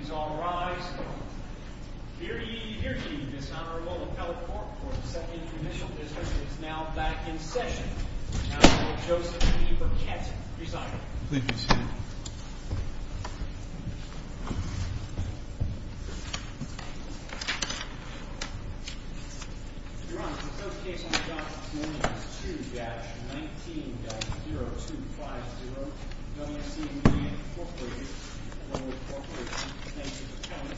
He's all rise, here he, here he, this Honorable Appellate Court for the Second Judicial District is now back in session. Appellate Joseph E. Burkett, presiding. Please be seated. Your Honor, the first case on the job is 1-2-19-0250. WCVB Corporation, the Federal Corporation for the Defense of the County.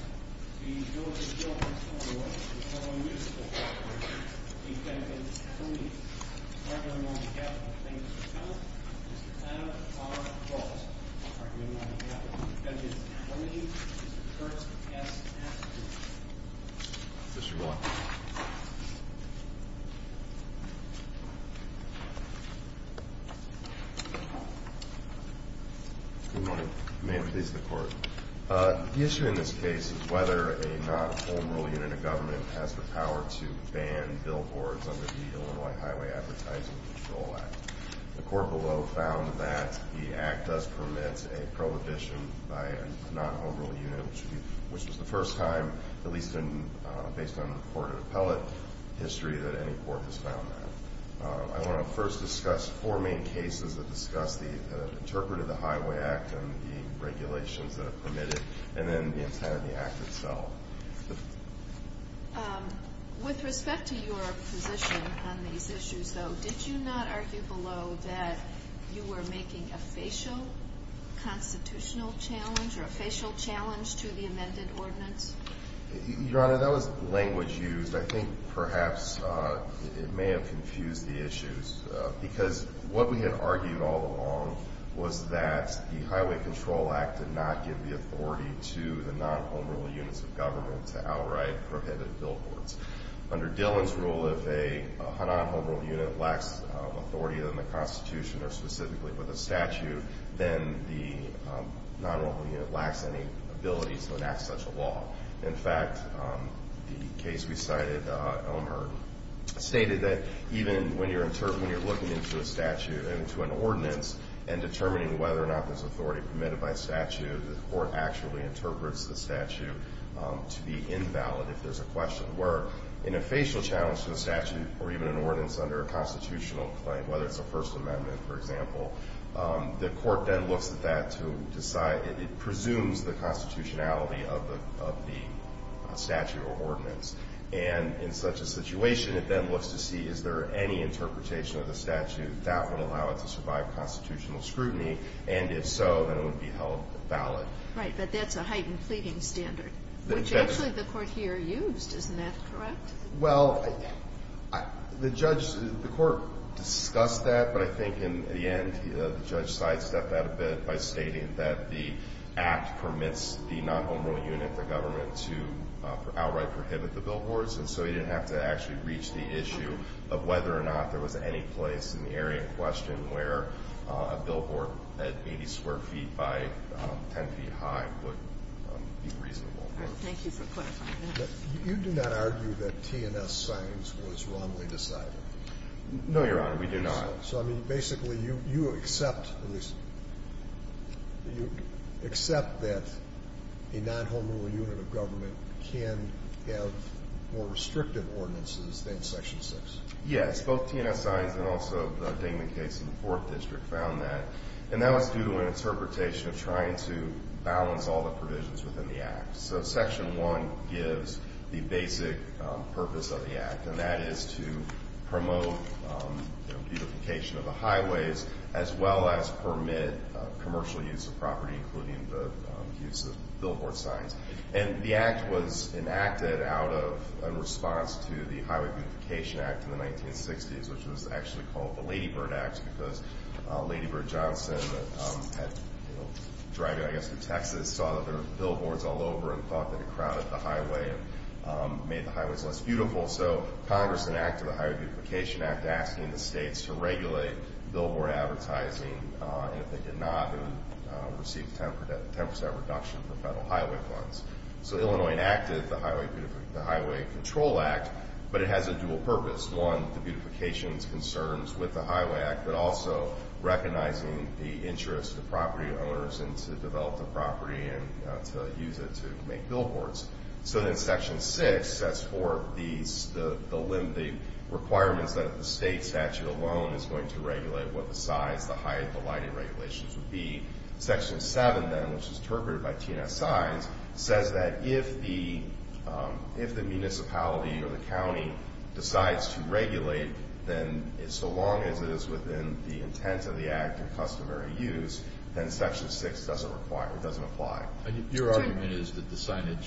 The ability to deal with the law is of no use to the corporation. The defendant, Tony, is not here on behalf of the Federal Corporation for the Defense of the County. Mr. Adam R. Fultz is not here on behalf of the defendant. Tony is the first to pass the statute. Yes, Your Honor. Good morning. May it please the Court. The issue in this case is whether a non-home rule unit in a government has the power to ban billboards under the Illinois Highway Advertising Control Act. The court below found that the act does permit a prohibition by a non-home rule unit, which was the first time, at least based on recorded appellate history, that any court has found that. I want to first discuss four main cases that discuss the interpretive of the Highway Act and the regulations that are permitted, and then the intent of the act itself. With respect to your position on these issues, though, did you not argue below that you were making a facial constitutional challenge or a facial challenge to the amended ordinance? Your Honor, that was language used. I think perhaps it may have confused the issues, because what we had argued all along was that the Highway Control Act did not give the authority to the non-home rule units of government to outright prohibit billboards. Under Dillon's rule, if a non-home rule unit lacks authority in the Constitution or specifically with a statute, then the non-home rule unit lacks any ability to enact such a law. In fact, the case we cited, Elmhurst, stated that even when you're looking into a statute, into an ordinance, and determining whether or not there's authority permitted by statute, the court actually interprets the statute to be invalid if there's a question. Where in a facial challenge to the statute or even an ordinance under a constitutional claim, whether it's a First Amendment, for example, the court then looks at that to decide. It presumes the constitutionality of the statute or ordinance. And in such a situation, it then looks to see is there any interpretation of the statute that would allow it to survive constitutional scrutiny, and if so, then it would be held valid. Right. But that's a heightened pleading standard, which actually the court here used. Isn't that correct? Well, the judge, the court discussed that, but I think in the end, the judge sidestepped that a bit by stating that the Act permits the non-home rule unit, the government, to outright prohibit the billboards, and so you didn't have to actually reach the issue of whether or not there was any place in the area in question where a billboard at 80 square feet by 10 feet high would be reasonable. Thank you for clarifying that. You do not argue that T&S signs was wrongly decided? No, Your Honor. We do not. So, I mean, basically, you accept that a non-home rule unit of government can have more restrictive ordinances than Section 6? Yes. Both T&S signs and also the Dingman case in the Fourth District found that, and that was due to an interpretation of trying to balance all the provisions within the Act. So Section 1 gives the basic purpose of the Act, and that is to promote beautification of the highways as well as permit commercial use of property, including the use of billboard signs. And the Act was enacted out of a response to the Highway Beautification Act in the 1960s, which was actually called the Lady Bird Act because Lady Bird Johnson, driving, I guess, through Texas, saw that there were billboards all over and thought that it crowded the highway and made the highways less beautiful. So Congress enacted the Highway Beautification Act asking the states to regulate billboard advertising, and if they did not, it would receive a 10% reduction for federal highway funds. So Illinois enacted the Highway Control Act, but it has a dual purpose. One, the beautification concerns with the Highway Act, but also recognizing the interest of property owners and to develop the property and to use it to make billboards. So then Section 6 sets forth the requirements that the state statute alone is going to regulate what the size, the height, the lighting regulations would be. Section 7, then, which is interpreted by T&S signs, says that if the municipality or the county decides to regulate, then so long as it is within the intent of the Act and customary use, then Section 6 doesn't apply. Your argument is that the signage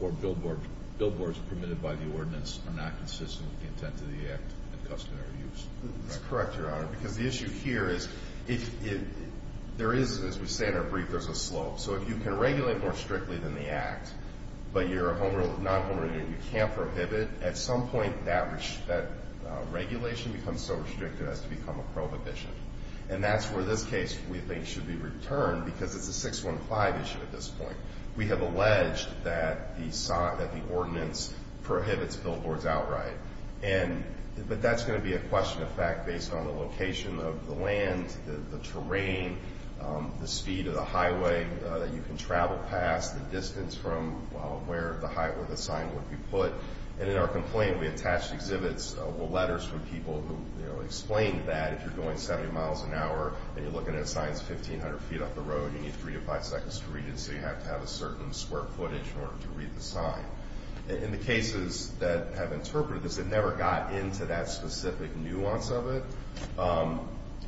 or billboards permitted by the ordinance are not consistent with the intent of the Act and customary use. That's correct, Your Honor, because the issue here is there is, as we say in our brief, there's a slope. So if you can regulate more strictly than the Act, but you're a non-homeowner and you can't prohibit, at some point that regulation becomes so restrictive it has to become a prohibition. And that's where this case, we think, should be returned, because it's a 615 issue at this point. We have alleged that the ordinance prohibits billboards outright, but that's going to be a question of fact based on the location of the land, the terrain, the speed of the highway that you can travel past, the distance from where the sign would be put. And in our complaint, we attached exhibits with letters from people who explained that if you're going 70 miles an hour and you're looking at a sign that's 1,500 feet off the road, you need three to five seconds to read it, so you have to have a certain square footage in order to read the sign. In the cases that have interpreted this, it never got into that specific nuance of it.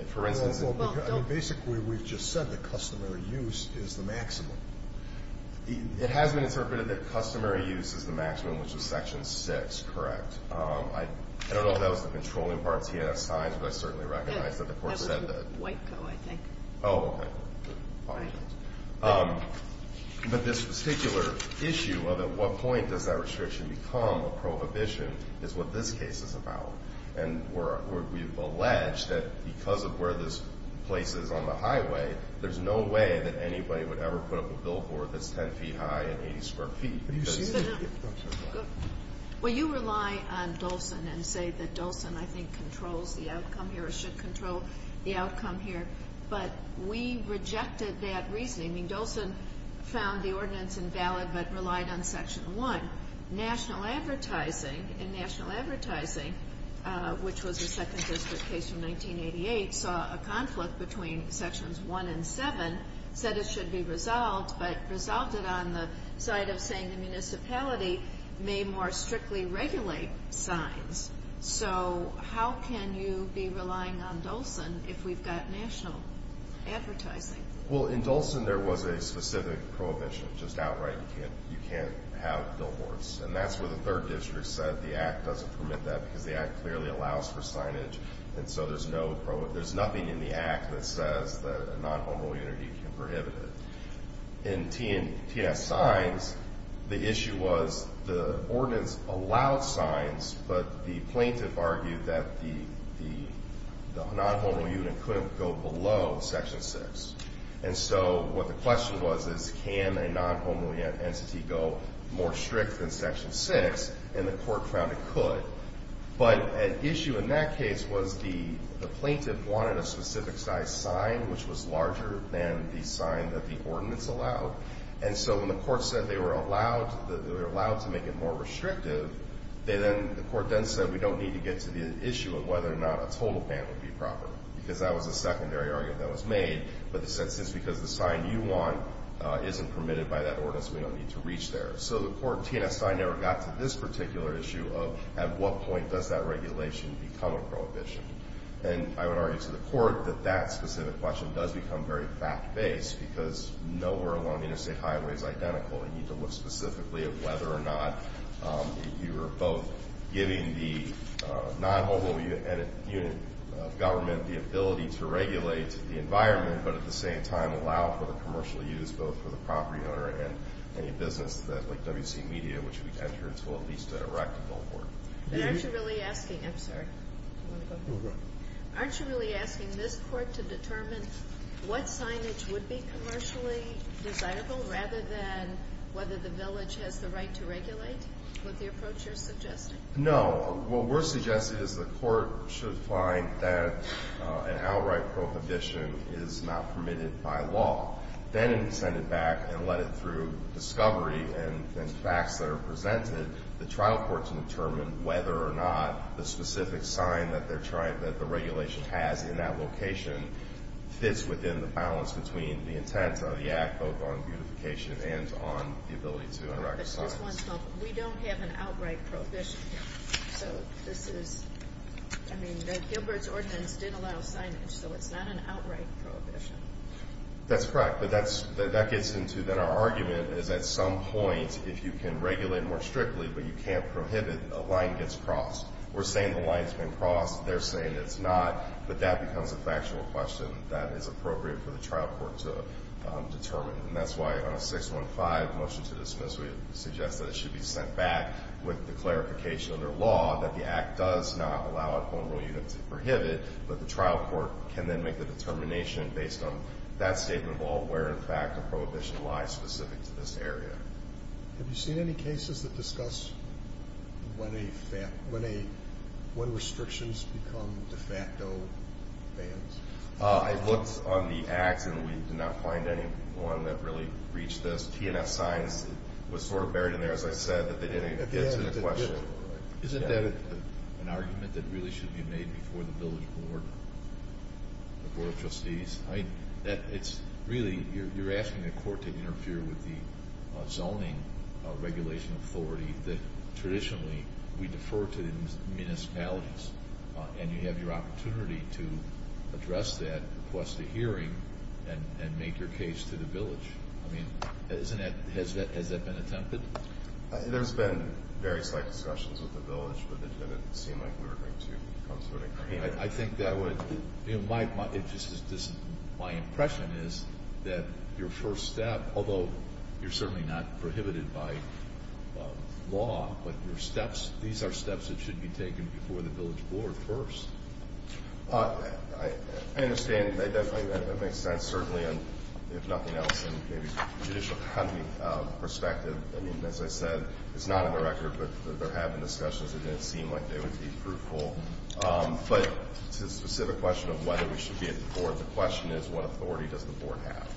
If, for instance, it's... Well, don't... Basically, we've just said that customary use is the maximum. It has been interpreted that customary use is the maximum, which is Section 6, correct? I don't know if that was the controlling part of T.S. Sines, but I certainly recognize that the Court said that. That was in Whiteco, I think. Oh, okay. Right. But this particular issue of at what point does that restriction become a prohibition is what this case is about. And we've alleged that because of where this place is on the highway, there's no way that anybody would ever put up a billboard that's 10 feet high and 80 square feet because... Well, you rely on Dolson and say that Dolson, I think, controls the outcome here or should control the outcome here, but we rejected that reasoning. I mean, Dolson found the ordinance invalid but relied on Section 1. National Advertising, in National Advertising, which was a Second District case from 1988, saw a conflict between Sections 1 and 7, said it should be resolved, but resolved it on the side of saying the municipality may more strictly regulate signs. So how can you be relying on Dolson if we've got National Advertising? Well, in Dolson there was a specific prohibition, just outright. You can't have billboards. And that's where the Third District said the Act doesn't permit that because the Act clearly allows for signage, and so there's nothing in the Act that says that a non-homeroom unit can prohibit it. In T.S. Signs, the issue was the ordinance allowed signs, but the plaintiff argued that the non-homeroom unit couldn't go below Section 6. And so what the question was is can a non-homeroom entity go more strict than Section 6, and the court found it could. But an issue in that case was the plaintiff wanted a specific size sign which was larger than the sign that the ordinance allowed. And so when the court said they were allowed to make it more restrictive, the court then said we don't need to get to the issue of whether or not a total ban would be proper because that was a secondary argument that was made. But the sentence is because the sign you want isn't permitted by that ordinance, we don't need to reach there. So the court in T.S. Sign never got to this particular issue of at what point does that regulation become a prohibition. And I would argue to the court that that specific question does become very fact-based because nowhere along Interstate Highway is identical. You need to look specifically at whether or not you're both giving the non-homeroom unit government the ability to regulate the environment but at the same time allow for the commercial use both for the property owner and any business like W.C. Media, which we've entered into at least a rectable court. But aren't you really asking this court to determine what signage would be commercially desirable rather than whether the village has the right to regulate with the approach you're suggesting? No. What we're suggesting is the court should find that an outright prohibition is not permitted by law. Then send it back and let it through discovery and facts that are presented. The trial court should determine whether or not the specific sign that they're trying that the regulation has in that location fits within the balance between the intent of the act both on beautification and on the ability to unrecognize. We don't have an outright prohibition. So this is, I mean, the Gilbert's ordinance did allow signage, so it's not an outright prohibition. That's correct. But that gets into that our argument is at some point if you can regulate more strictly but you can't prohibit, a line gets crossed. We're saying the line's been crossed. They're saying it's not. But that becomes a factual question that is appropriate for the trial court to determine. And that's why on a 615 motion to dismiss we suggest that it should be sent back with the clarification under law that the act does not allow a home rule unit to prohibit, but the trial court can then make the determination based on that statement of all where, in fact, the prohibition lies specific to this area. Have you seen any cases that discuss when restrictions become de facto bans? I looked on the acts and we did not find anyone that really reached those P&F signs. It was sort of buried in there, as I said, that they didn't get to the question. Isn't that an argument that really should be made before the village board of trustees? I mean, it's really you're asking the court to interfere with the zoning regulation authority that traditionally we defer to the municipalities, and you have your opportunity to address that across the hearing and make your case to the village. I mean, has that been attempted? There's been very slight discussions with the village, but it didn't seem like we were going to come to an agreement. I think that would be my impression is that your first step, although you're certainly not prohibited by law, but these are steps that should be taken before the village board first. I understand. That makes sense, certainly, if nothing else. And maybe from a judicial economy perspective, I mean, as I said, it's not on the record, but there have been discussions. It didn't seem like they would be fruitful. But to the specific question of whether we should be at the board, the question is what authority does the board have?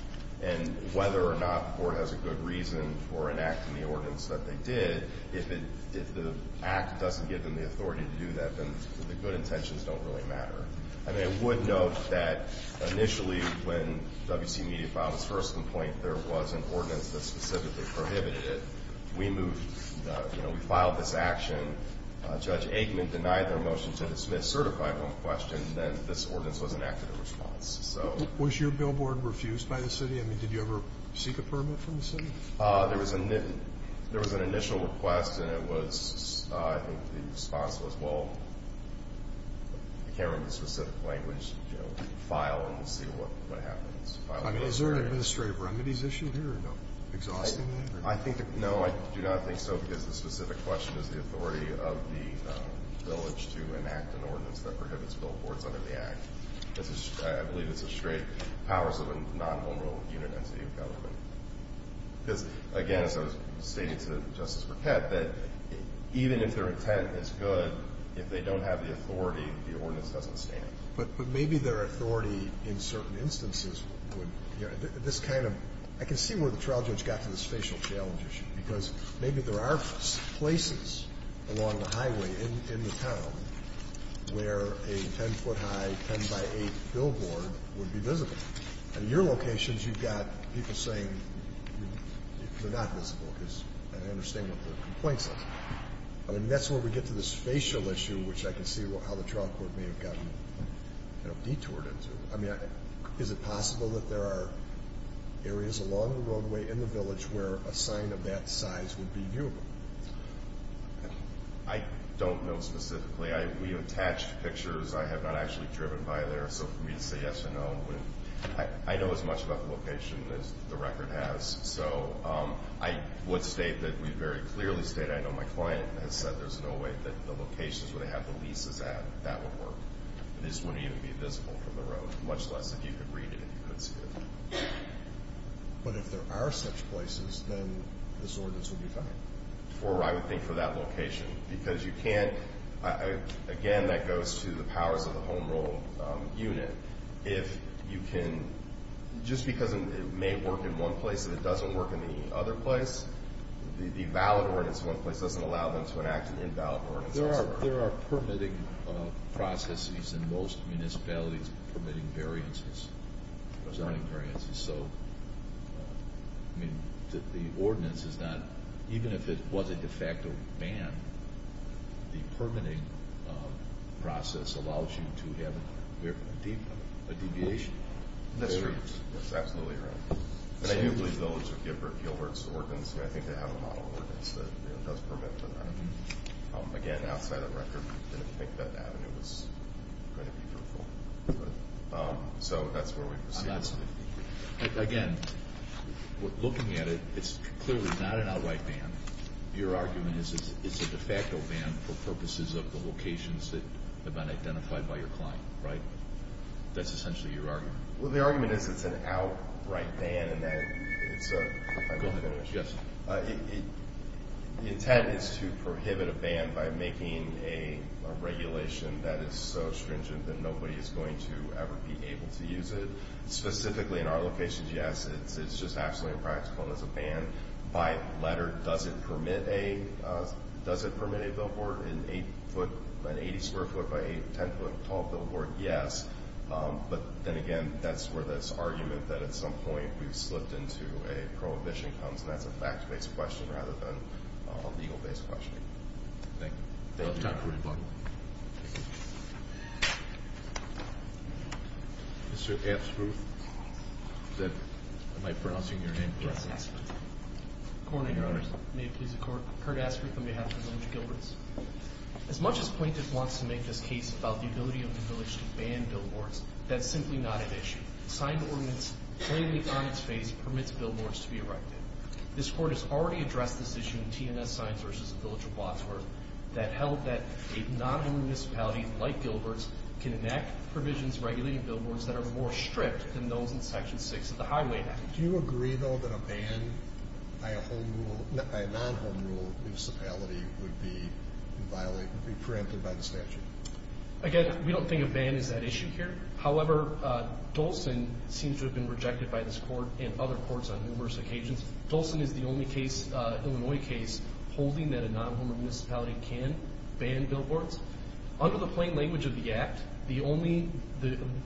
And whether or not the board has a good reason for enacting the ordinance that they did, if the act doesn't give them the authority to do that, then the good intentions don't really matter. I mean, I would note that initially when WC Media filed its first complaint, there was an ordinance that specifically prohibited it. We moved, you know, we filed this action. Judge Aikman denied their motion to dismiss, certified one question, and then this ordinance was enacted in response. Was your billboard refused by the city? I mean, did you ever seek a permit from the city? There was an initial request, and it was, I think, the response was, well, I can't remember the specific language, you know, file and see what happens. Is there an administrative remedy that's issued here? No. Exhausting that? No, I do not think so, because the specific question is the authority of the village to enact an ordinance that prohibits billboards under the act. I believe it's a straight powers of a non-vulnerable unit entity of government. Because, again, as I was stating to Justice Burkett, that even if their intent is good, if they don't have the authority, the ordinance doesn't stand. But maybe their authority in certain instances would, you know, this kind of – I can see where the trial judge got to this facial challenge issue, because maybe there are places along the highway in the town where a 10-foot high, 10 by 8 billboard would be visible. At your locations, you've got people saying they're not visible, because I understand what the complaint says. I mean, that's where we get to this facial issue, which I can see how the trial court may have gotten, you know, detoured into. I mean, is it possible that there are areas along the roadway in the village where a sign of that size would be viewable? I don't know specifically. We attached pictures. I have not actually driven by there. So for me to say yes or no wouldn't – I know as much about the location as the record has. So I would state that we very clearly stated – I know my client has said there's no way that the locations where they have the leases at, that would work. It just wouldn't even be visible from the road, much less if you could read it and you could see it. But if there are such places, then this ordinance would be fine? I would think for that location. Because you can't – again, that goes to the powers of the home rule. If you can – just because it may work in one place and it doesn't work in the other place, the valid ordinance in one place doesn't allow them to enact an invalid ordinance elsewhere. There are permitting processes in most municipalities permitting variances, presiding variances. So, I mean, the ordinance is not – even if it was a de facto ban, the permitting process allows you to have a deviation. That's true. That's absolutely right. And I do believe those are Gilbert's ordinance. I think they have a model ordinance that does permit to that. Again, outside of the record, I didn't think that avenue was going to be fruitful. So that's where we proceed. Again, looking at it, it's clearly not an outright ban. Your argument is it's a de facto ban for purposes of the locations that have been identified by your client, right? That's essentially your argument. Well, the argument is it's an outright ban in that it's a – Go ahead. Yes. The intent is to prohibit a ban by making a regulation that is so stringent that nobody is going to ever be able to use it. Specifically in our locations, yes, it's just absolutely impractical. And as a ban by letter, does it permit a billboard, an 80-square foot by 10-foot tall billboard? Yes. But then again, that's where this argument that at some point we've slipped into a prohibition comes, and that's a fact-based question rather than a legal-based question. Thank you. No time for rebuttal. Thank you. Mr. Aspruth. Am I pronouncing your name correctly? Yes, that's correct. Good morning, Your Honor. May it please the Court. Kurt Aspruth on behalf of the Village of Gilberts. As much as Plaintiff wants to make this case about the ability of the village to ban billboards, that's simply not an issue. A signed ordinance plainly on its face permits billboards to be erected. This Court has already addressed this issue in T&S Signs that held that a non-home municipality like Gilberts can enact provisions regulating billboards that are more stripped than those in Section 6 of the Highway Act. Do you agree, though, that a ban by a non-home municipality would be preempted by the statute? Again, we don't think a ban is at issue here. However, Dolson seems to have been rejected by this Court and other courts on numerous occasions. Dolson is the only Illinois case holding that a non-home municipality can ban billboards. Under the plain language of the Act, the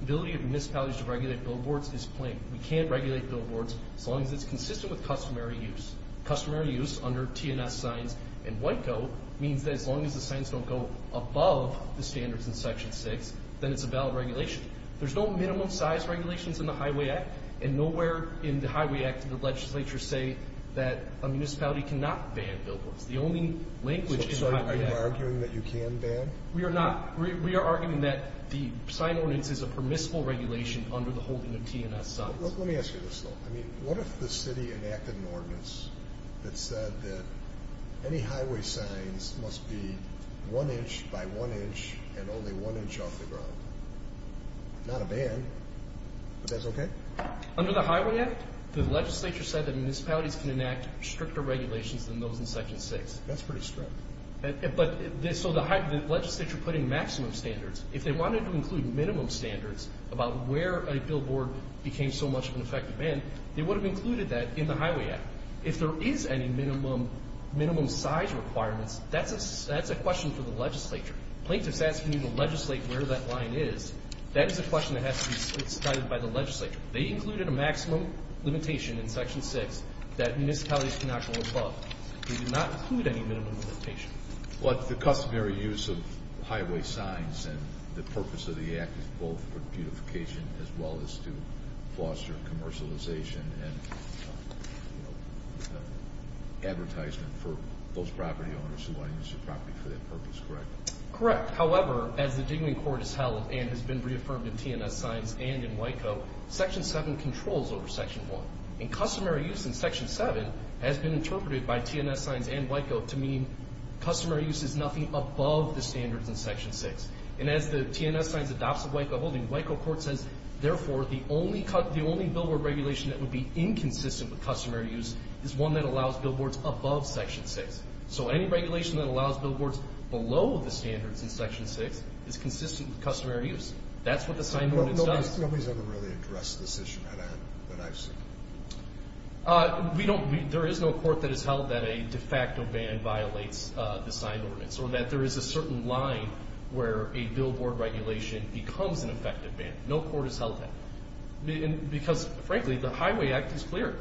ability of municipalities to regulate billboards is plain. We can't regulate billboards as long as it's consistent with customary use. Customary use under T&S Signs and WICO means that as long as the signs don't go above the standards in Section 6, then it's a valid regulation. There's no minimum size regulations in the Highway Act, and nowhere in the Highway Act did the legislature say that a municipality cannot ban billboards. The only language in the Highway Act. So, are you arguing that you can ban? We are not. We are arguing that the sign ordinance is a permissible regulation under the holding of T&S Signs. Let me ask you this, though. What if the city enacted an ordinance that said that any highway signs must be one inch by one inch and only one inch off the ground? Not a ban, but that's okay? Under the Highway Act, the legislature said that municipalities can enact stricter regulations than those in Section 6. That's pretty strict. So the legislature put in maximum standards. If they wanted to include minimum standards about where a billboard became so much of an effective ban, they would have included that in the Highway Act. If there is any minimum size requirements, that's a question for the legislature. Plaintiffs asking you to legislate where that line is, that is a question that has to be decided by the legislature. They included a maximum limitation in Section 6 that municipalities cannot go above. They did not include any minimum limitation. But the customary use of highway signs and the purpose of the act is both for beautification as well as to foster commercialization and advertisement for those property owners who want to use their property for that purpose, correct? Correct. However, as the Dignity Court has held and has been reaffirmed in TNS signs and in WICO, Section 7 controls over Section 1. And customary use in Section 7 has been interpreted by TNS signs and WICO to mean customary use is nothing above the standards in Section 6. And as the TNS signs adopts a WICO holding, WICO court says, therefore the only billboard regulation that would be inconsistent with customary use is one that allows billboards above Section 6. So any regulation that allows billboards below the standards in Section 6 is consistent with customary use. That's what the signed ordinance does. Nobody's ever really addressed this issue that I've seen. There is no court that has held that a de facto ban violates the signed ordinance or that there is a certain line where a billboard regulation becomes an effective ban. No court has held that. Because, frankly, the Highway Act is clear.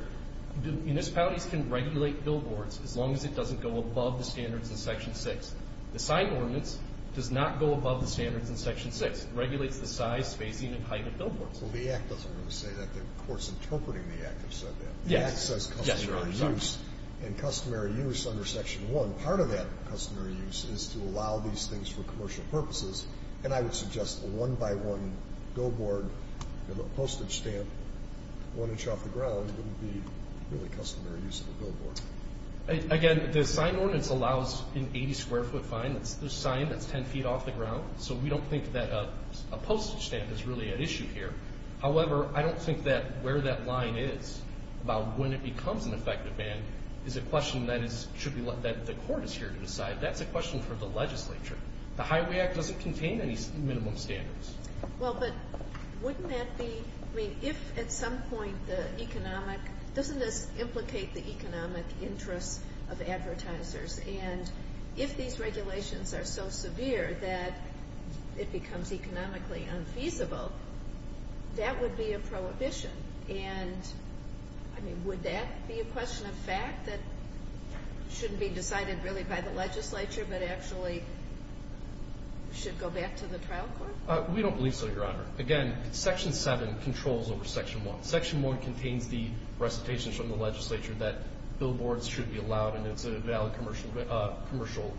Municipalities can regulate billboards as long as it doesn't go above the standards in Section 6. The signed ordinance does not go above the standards in Section 6. It regulates the size, spacing, and height of billboards. Well, the Act doesn't really say that. The courts interpreting the Act have said that. The Act says customary use. And customary use under Section 1, part of that customary use is to allow these things for commercial purposes. And I would suggest a one-by-one billboard, a postage stamp, one inch off the ground wouldn't be really customary use of a billboard. Again, the signed ordinance allows an 80-square-foot fine. It's a sign that's 10 feet off the ground. So we don't think that a postage stamp is really at issue here. However, I don't think that where that line is about when it becomes an effective ban is a question that the court is here to decide. That's a question for the legislature. The Highway Act doesn't contain any minimum standards. Well, but wouldn't that be, I mean, if at some point the economic, doesn't this implicate the economic interests of advertisers? And if these regulations are so severe that it becomes economically unfeasible, that would be a prohibition. And, I mean, would that be a question of fact that shouldn't be decided really by the legislature but actually should go back to the trial court? We don't believe so, Your Honor. Again, Section 7 controls over Section 1. Section 1 contains the recitations from the legislature that billboards should be allowed and it's a valid commercial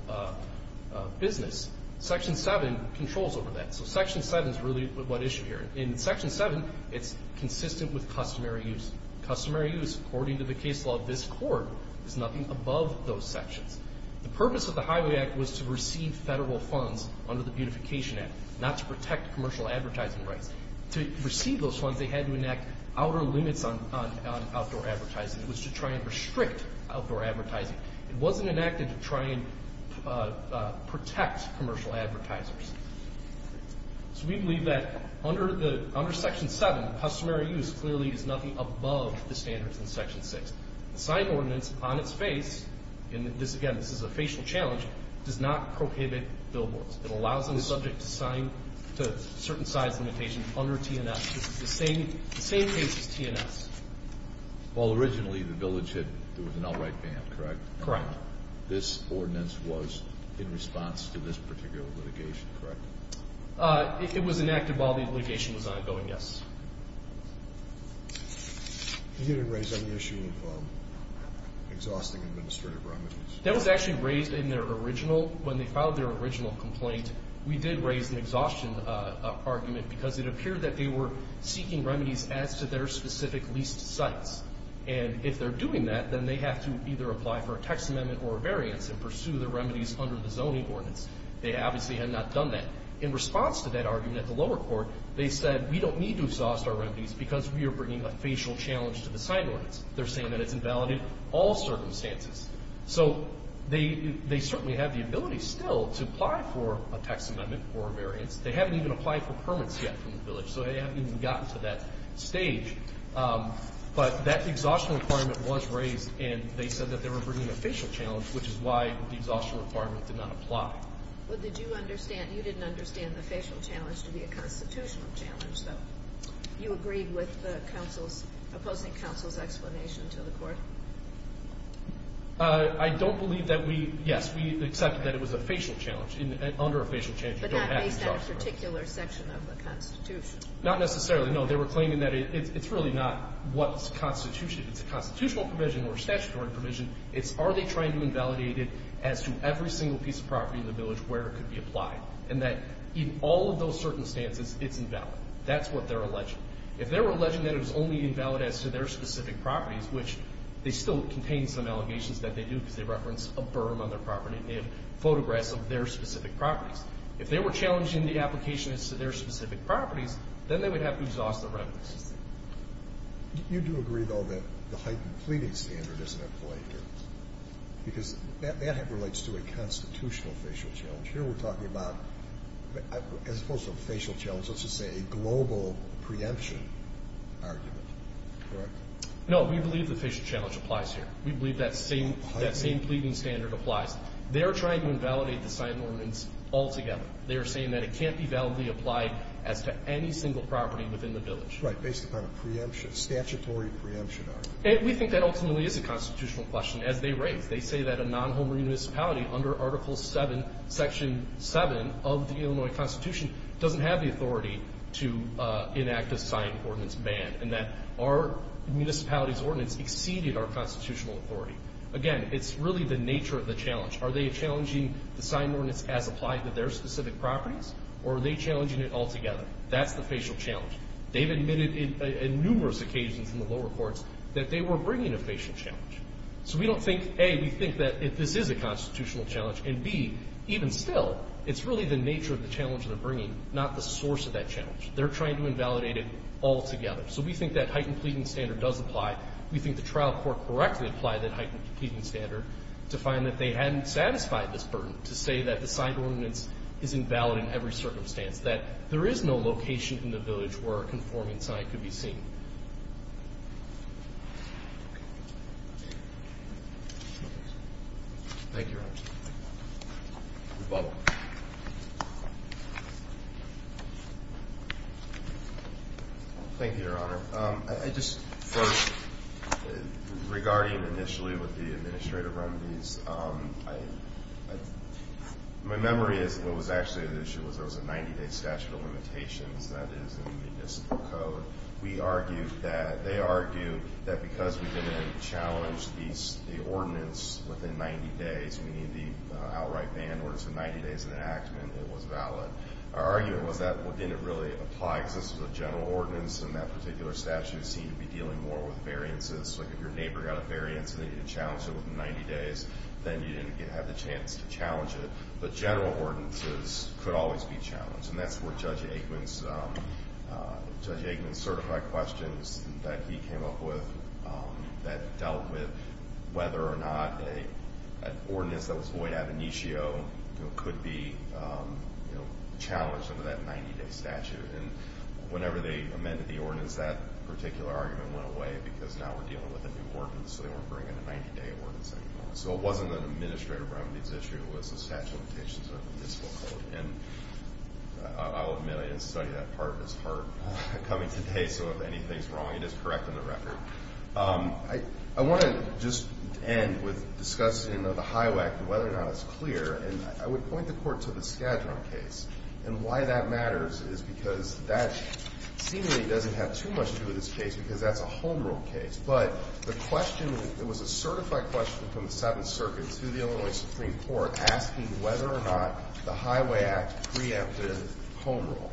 business. Section 7 controls over that. So Section 7 is really what's at issue here. In Section 7, it's consistent with customary use. Customary use, according to the case law of this court, is nothing above those sections. The purpose of the Highway Act was to receive Federal funds under the Beautification Act, not to protect commercial advertising rights. To receive those funds, they had to enact outer limits on outdoor advertising. It was to try and restrict outdoor advertising. It wasn't enacted to try and protect commercial advertisers. So we believe that under Section 7, customary use clearly is nothing above the standards in Section 6. The sign ordinance on its face, and again, this is a facial challenge, does not prohibit billboards. It allows them subject to certain size limitations under T&S. This is the same case as T&S. Well, originally the village had an outright ban, correct? Correct. This ordinance was in response to this particular litigation, correct? It was enacted while the litigation was ongoing, yes. You didn't raise any issue of exhausting administrative remedies. That was actually raised in their original, when they filed their original complaint. We did raise an exhaustion argument because it appeared that they were seeking remedies as to their specific leased sites. And if they're doing that, then they have to either apply for a text amendment or a variance and pursue the remedies under the zoning ordinance. They obviously had not done that. In response to that argument at the lower court, they said we don't need to exhaust our remedies because we are bringing a facial challenge to the sign ordinance. They're saying that it's invalid in all circumstances. So they certainly have the ability still to apply for a text amendment or a variance. They haven't even applied for permits yet from the village, so they haven't even gotten to that stage. But that exhaustion requirement was raised, and they said that they were bringing a facial challenge, which is why the exhaustion requirement did not apply. Well, did you understand? You didn't understand the facial challenge to be a constitutional challenge, though. You agreed with the opposing counsel's explanation to the court? I don't believe that we – yes, we accepted that it was a facial challenge, under a facial challenge. But that based on a particular section of the Constitution. Not necessarily, no. They were claiming that it's really not what's constitutional. It's a constitutional provision or a statutory provision. It's are they trying to invalidate it as to every single piece of property in the village where it could be applied, and that in all of those circumstances it's invalid. That's what they're alleging. If they were alleging that it was only invalid as to their specific properties, which they still contain some allegations that they do because they reference a berm on their property and they have photographs of their specific properties. If they were challenging the application as to their specific properties, then they would have to exhaust the revenue system. You do agree, though, that the heightened pleading standard isn't employed here? Because that relates to a constitutional facial challenge. Here we're talking about, as opposed to a facial challenge, let's just say a global preemption argument, correct? No, we believe the facial challenge applies here. We believe that same pleading standard applies. They are trying to invalidate the signed ordinance altogether. They are saying that it can't be validly applied as to any single property within the village. Right, based upon a statutory preemption argument. We think that ultimately is a constitutional question, as they raise. They say that a non-home re-municipality under Article 7, Section 7 of the Illinois Constitution doesn't have the authority to enact a signed ordinance ban and that our municipality's ordinance exceeded our constitutional authority. Again, it's really the nature of the challenge. Are they challenging the signed ordinance as applied to their specific properties or are they challenging it altogether? That's the facial challenge. They've admitted on numerous occasions in the lower courts that they were bringing a facial challenge. So we don't think, A, we think that this is a constitutional challenge and, B, even still, it's really the nature of the challenge they're bringing, not the source of that challenge. They're trying to invalidate it altogether. So we think that heightened pleading standard does apply. We think the trial court correctly applied that heightened pleading standard to find that they hadn't satisfied this burden to say that the signed ordinance is invalid in every circumstance, that there is no location in the village where a conforming sign could be seen. Thank you. Thank you, Your Honor. Rebuttal. Thank you, Your Honor. I just first, regarding initially with the administrative remedies, my memory is what was actually the issue was there was a 90-day statute of limitations. That is in the municipal code. We argued that they argued that because we didn't challenge the ordinance within 90 days, meaning the outright ban orders for 90 days of enactment, it was valid. Our argument was that didn't really apply because this was a general ordinance and that particular statute seemed to be dealing more with variances. Like if your neighbor got a variance and they didn't challenge it within 90 days, then you didn't have the chance to challenge it. But general ordinances could always be challenged. And that's where Judge Aikman's certified questions that he came up with that dealt with whether or not an ordinance that was void ab initio could be challenged under that 90-day statute. And whenever they amended the ordinance, that particular argument went away because now we're dealing with a new ordinance, so they weren't bringing a 90-day ordinance anymore. So it wasn't an administrative remedies issue. It was a statute of limitations under the municipal code. And I'll admit I didn't study that part. It's hard coming today, so if anything's wrong, it is correct in the record. I want to just end with discussing the Highway Act and whether or not it's clear. And I would point the court to the Skadron case. And why that matters is because that seemingly doesn't have too much to do with this case because that's a home rule case. But the question, it was a certified question from the Seventh Circuit to the Illinois Supreme Court asking whether or not the Highway Act preempted home rule.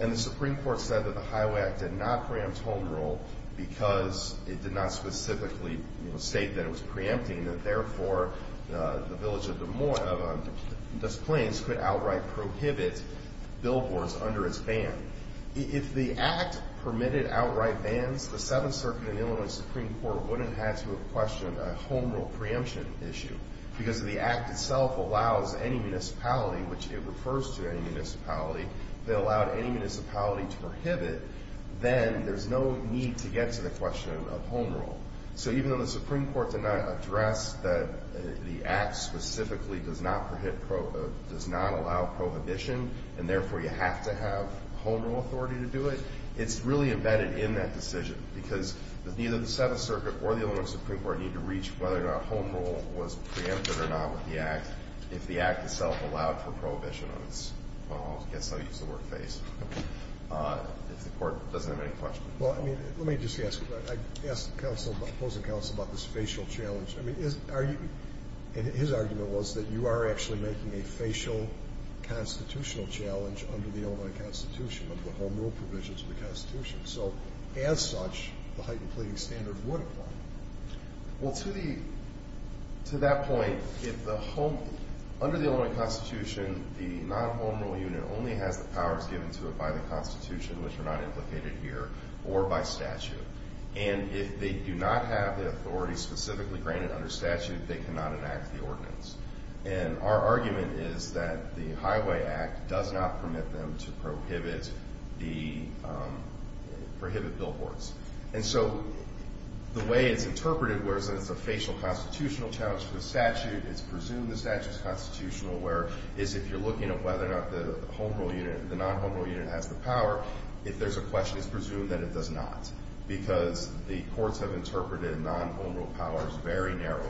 And the Supreme Court said that the Highway Act did not preempt home rule because it did not specifically state that it was preempting and therefore the village of Des Plaines could outright prohibit billboards under its ban. If the Act permitted outright bans, the Seventh Circuit and Illinois Supreme Court wouldn't have had to have questioned a home rule preemption issue because if the Act itself allows any municipality, which it refers to any municipality, if it allowed any municipality to prohibit, then there's no need to get to the question of home rule. So even though the Supreme Court did not address that the Act specifically does not allow prohibition and therefore you have to have home rule authority to do it, it's really embedded in that decision because neither the Seventh Circuit or the Illinois Supreme Court need to reach whether or not home rule was preempted or not with the Act if the Act itself allowed for prohibition on its, I guess I'll use the word, face, if the court doesn't have any questions. Well, I mean, let me just ask, I asked the opposing counsel about this facial challenge. I mean, his argument was that you are actually making a facial constitutional challenge under the Illinois Constitution, under the home rule provisions of the Constitution. So as such, the heightened pleading standard would apply. Well, to that point, under the Illinois Constitution, the non-home rule unit only has the powers given to it by the Constitution, which are not implicated here, or by statute. And if they do not have the authority specifically granted under statute, they cannot enact the ordinance. And our argument is that the Highway Act does not permit them to prohibit billboards. And so the way it's interpreted, whereas it's a facial constitutional challenge to the statute, it's presumed the statute is constitutional, whereas if you're looking at whether or not the home rule unit, the non-home rule unit has the power, if there's a question, it's presumed that it does not because the courts have interpreted non-home rule powers very narrowly.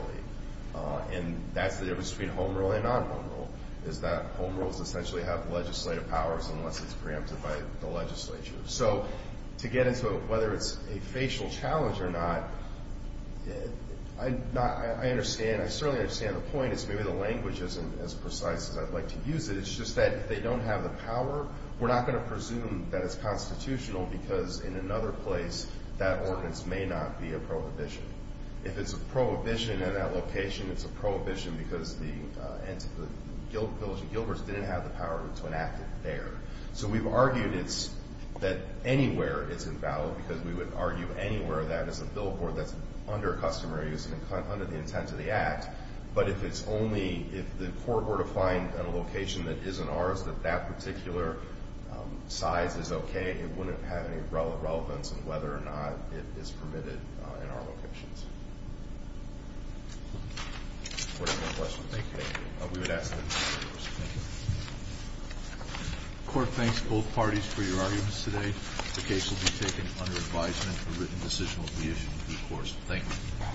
And that's the difference between home rule and non-home rule, is that home rules essentially have legislative powers unless it's preempted by the legislature. So to get into whether it's a facial challenge or not, I understand. I certainly understand the point is maybe the language isn't as precise as I'd like to use it. It's just that if they don't have the power, we're not going to presume that it's constitutional because in another place, that ordinance may not be a prohibition. If it's a prohibition in that location, it's a prohibition because the Village of Gilberts didn't have the power to enact it there. So we've argued that anywhere is invalid because we would argue anywhere that is a billboard that's under customary use and under the intent of the Act. But if it's only, if the court were to find a location that isn't ours, that that particular size is okay, it wouldn't have any relevance in whether or not it is permitted in our locations. If the court has no questions, thank you. We would ask that the court be recourse. Thank you. The court thanks both parties for your arguments today. The case will be taken under advisement. A written decision will be issued to the court. Thank you.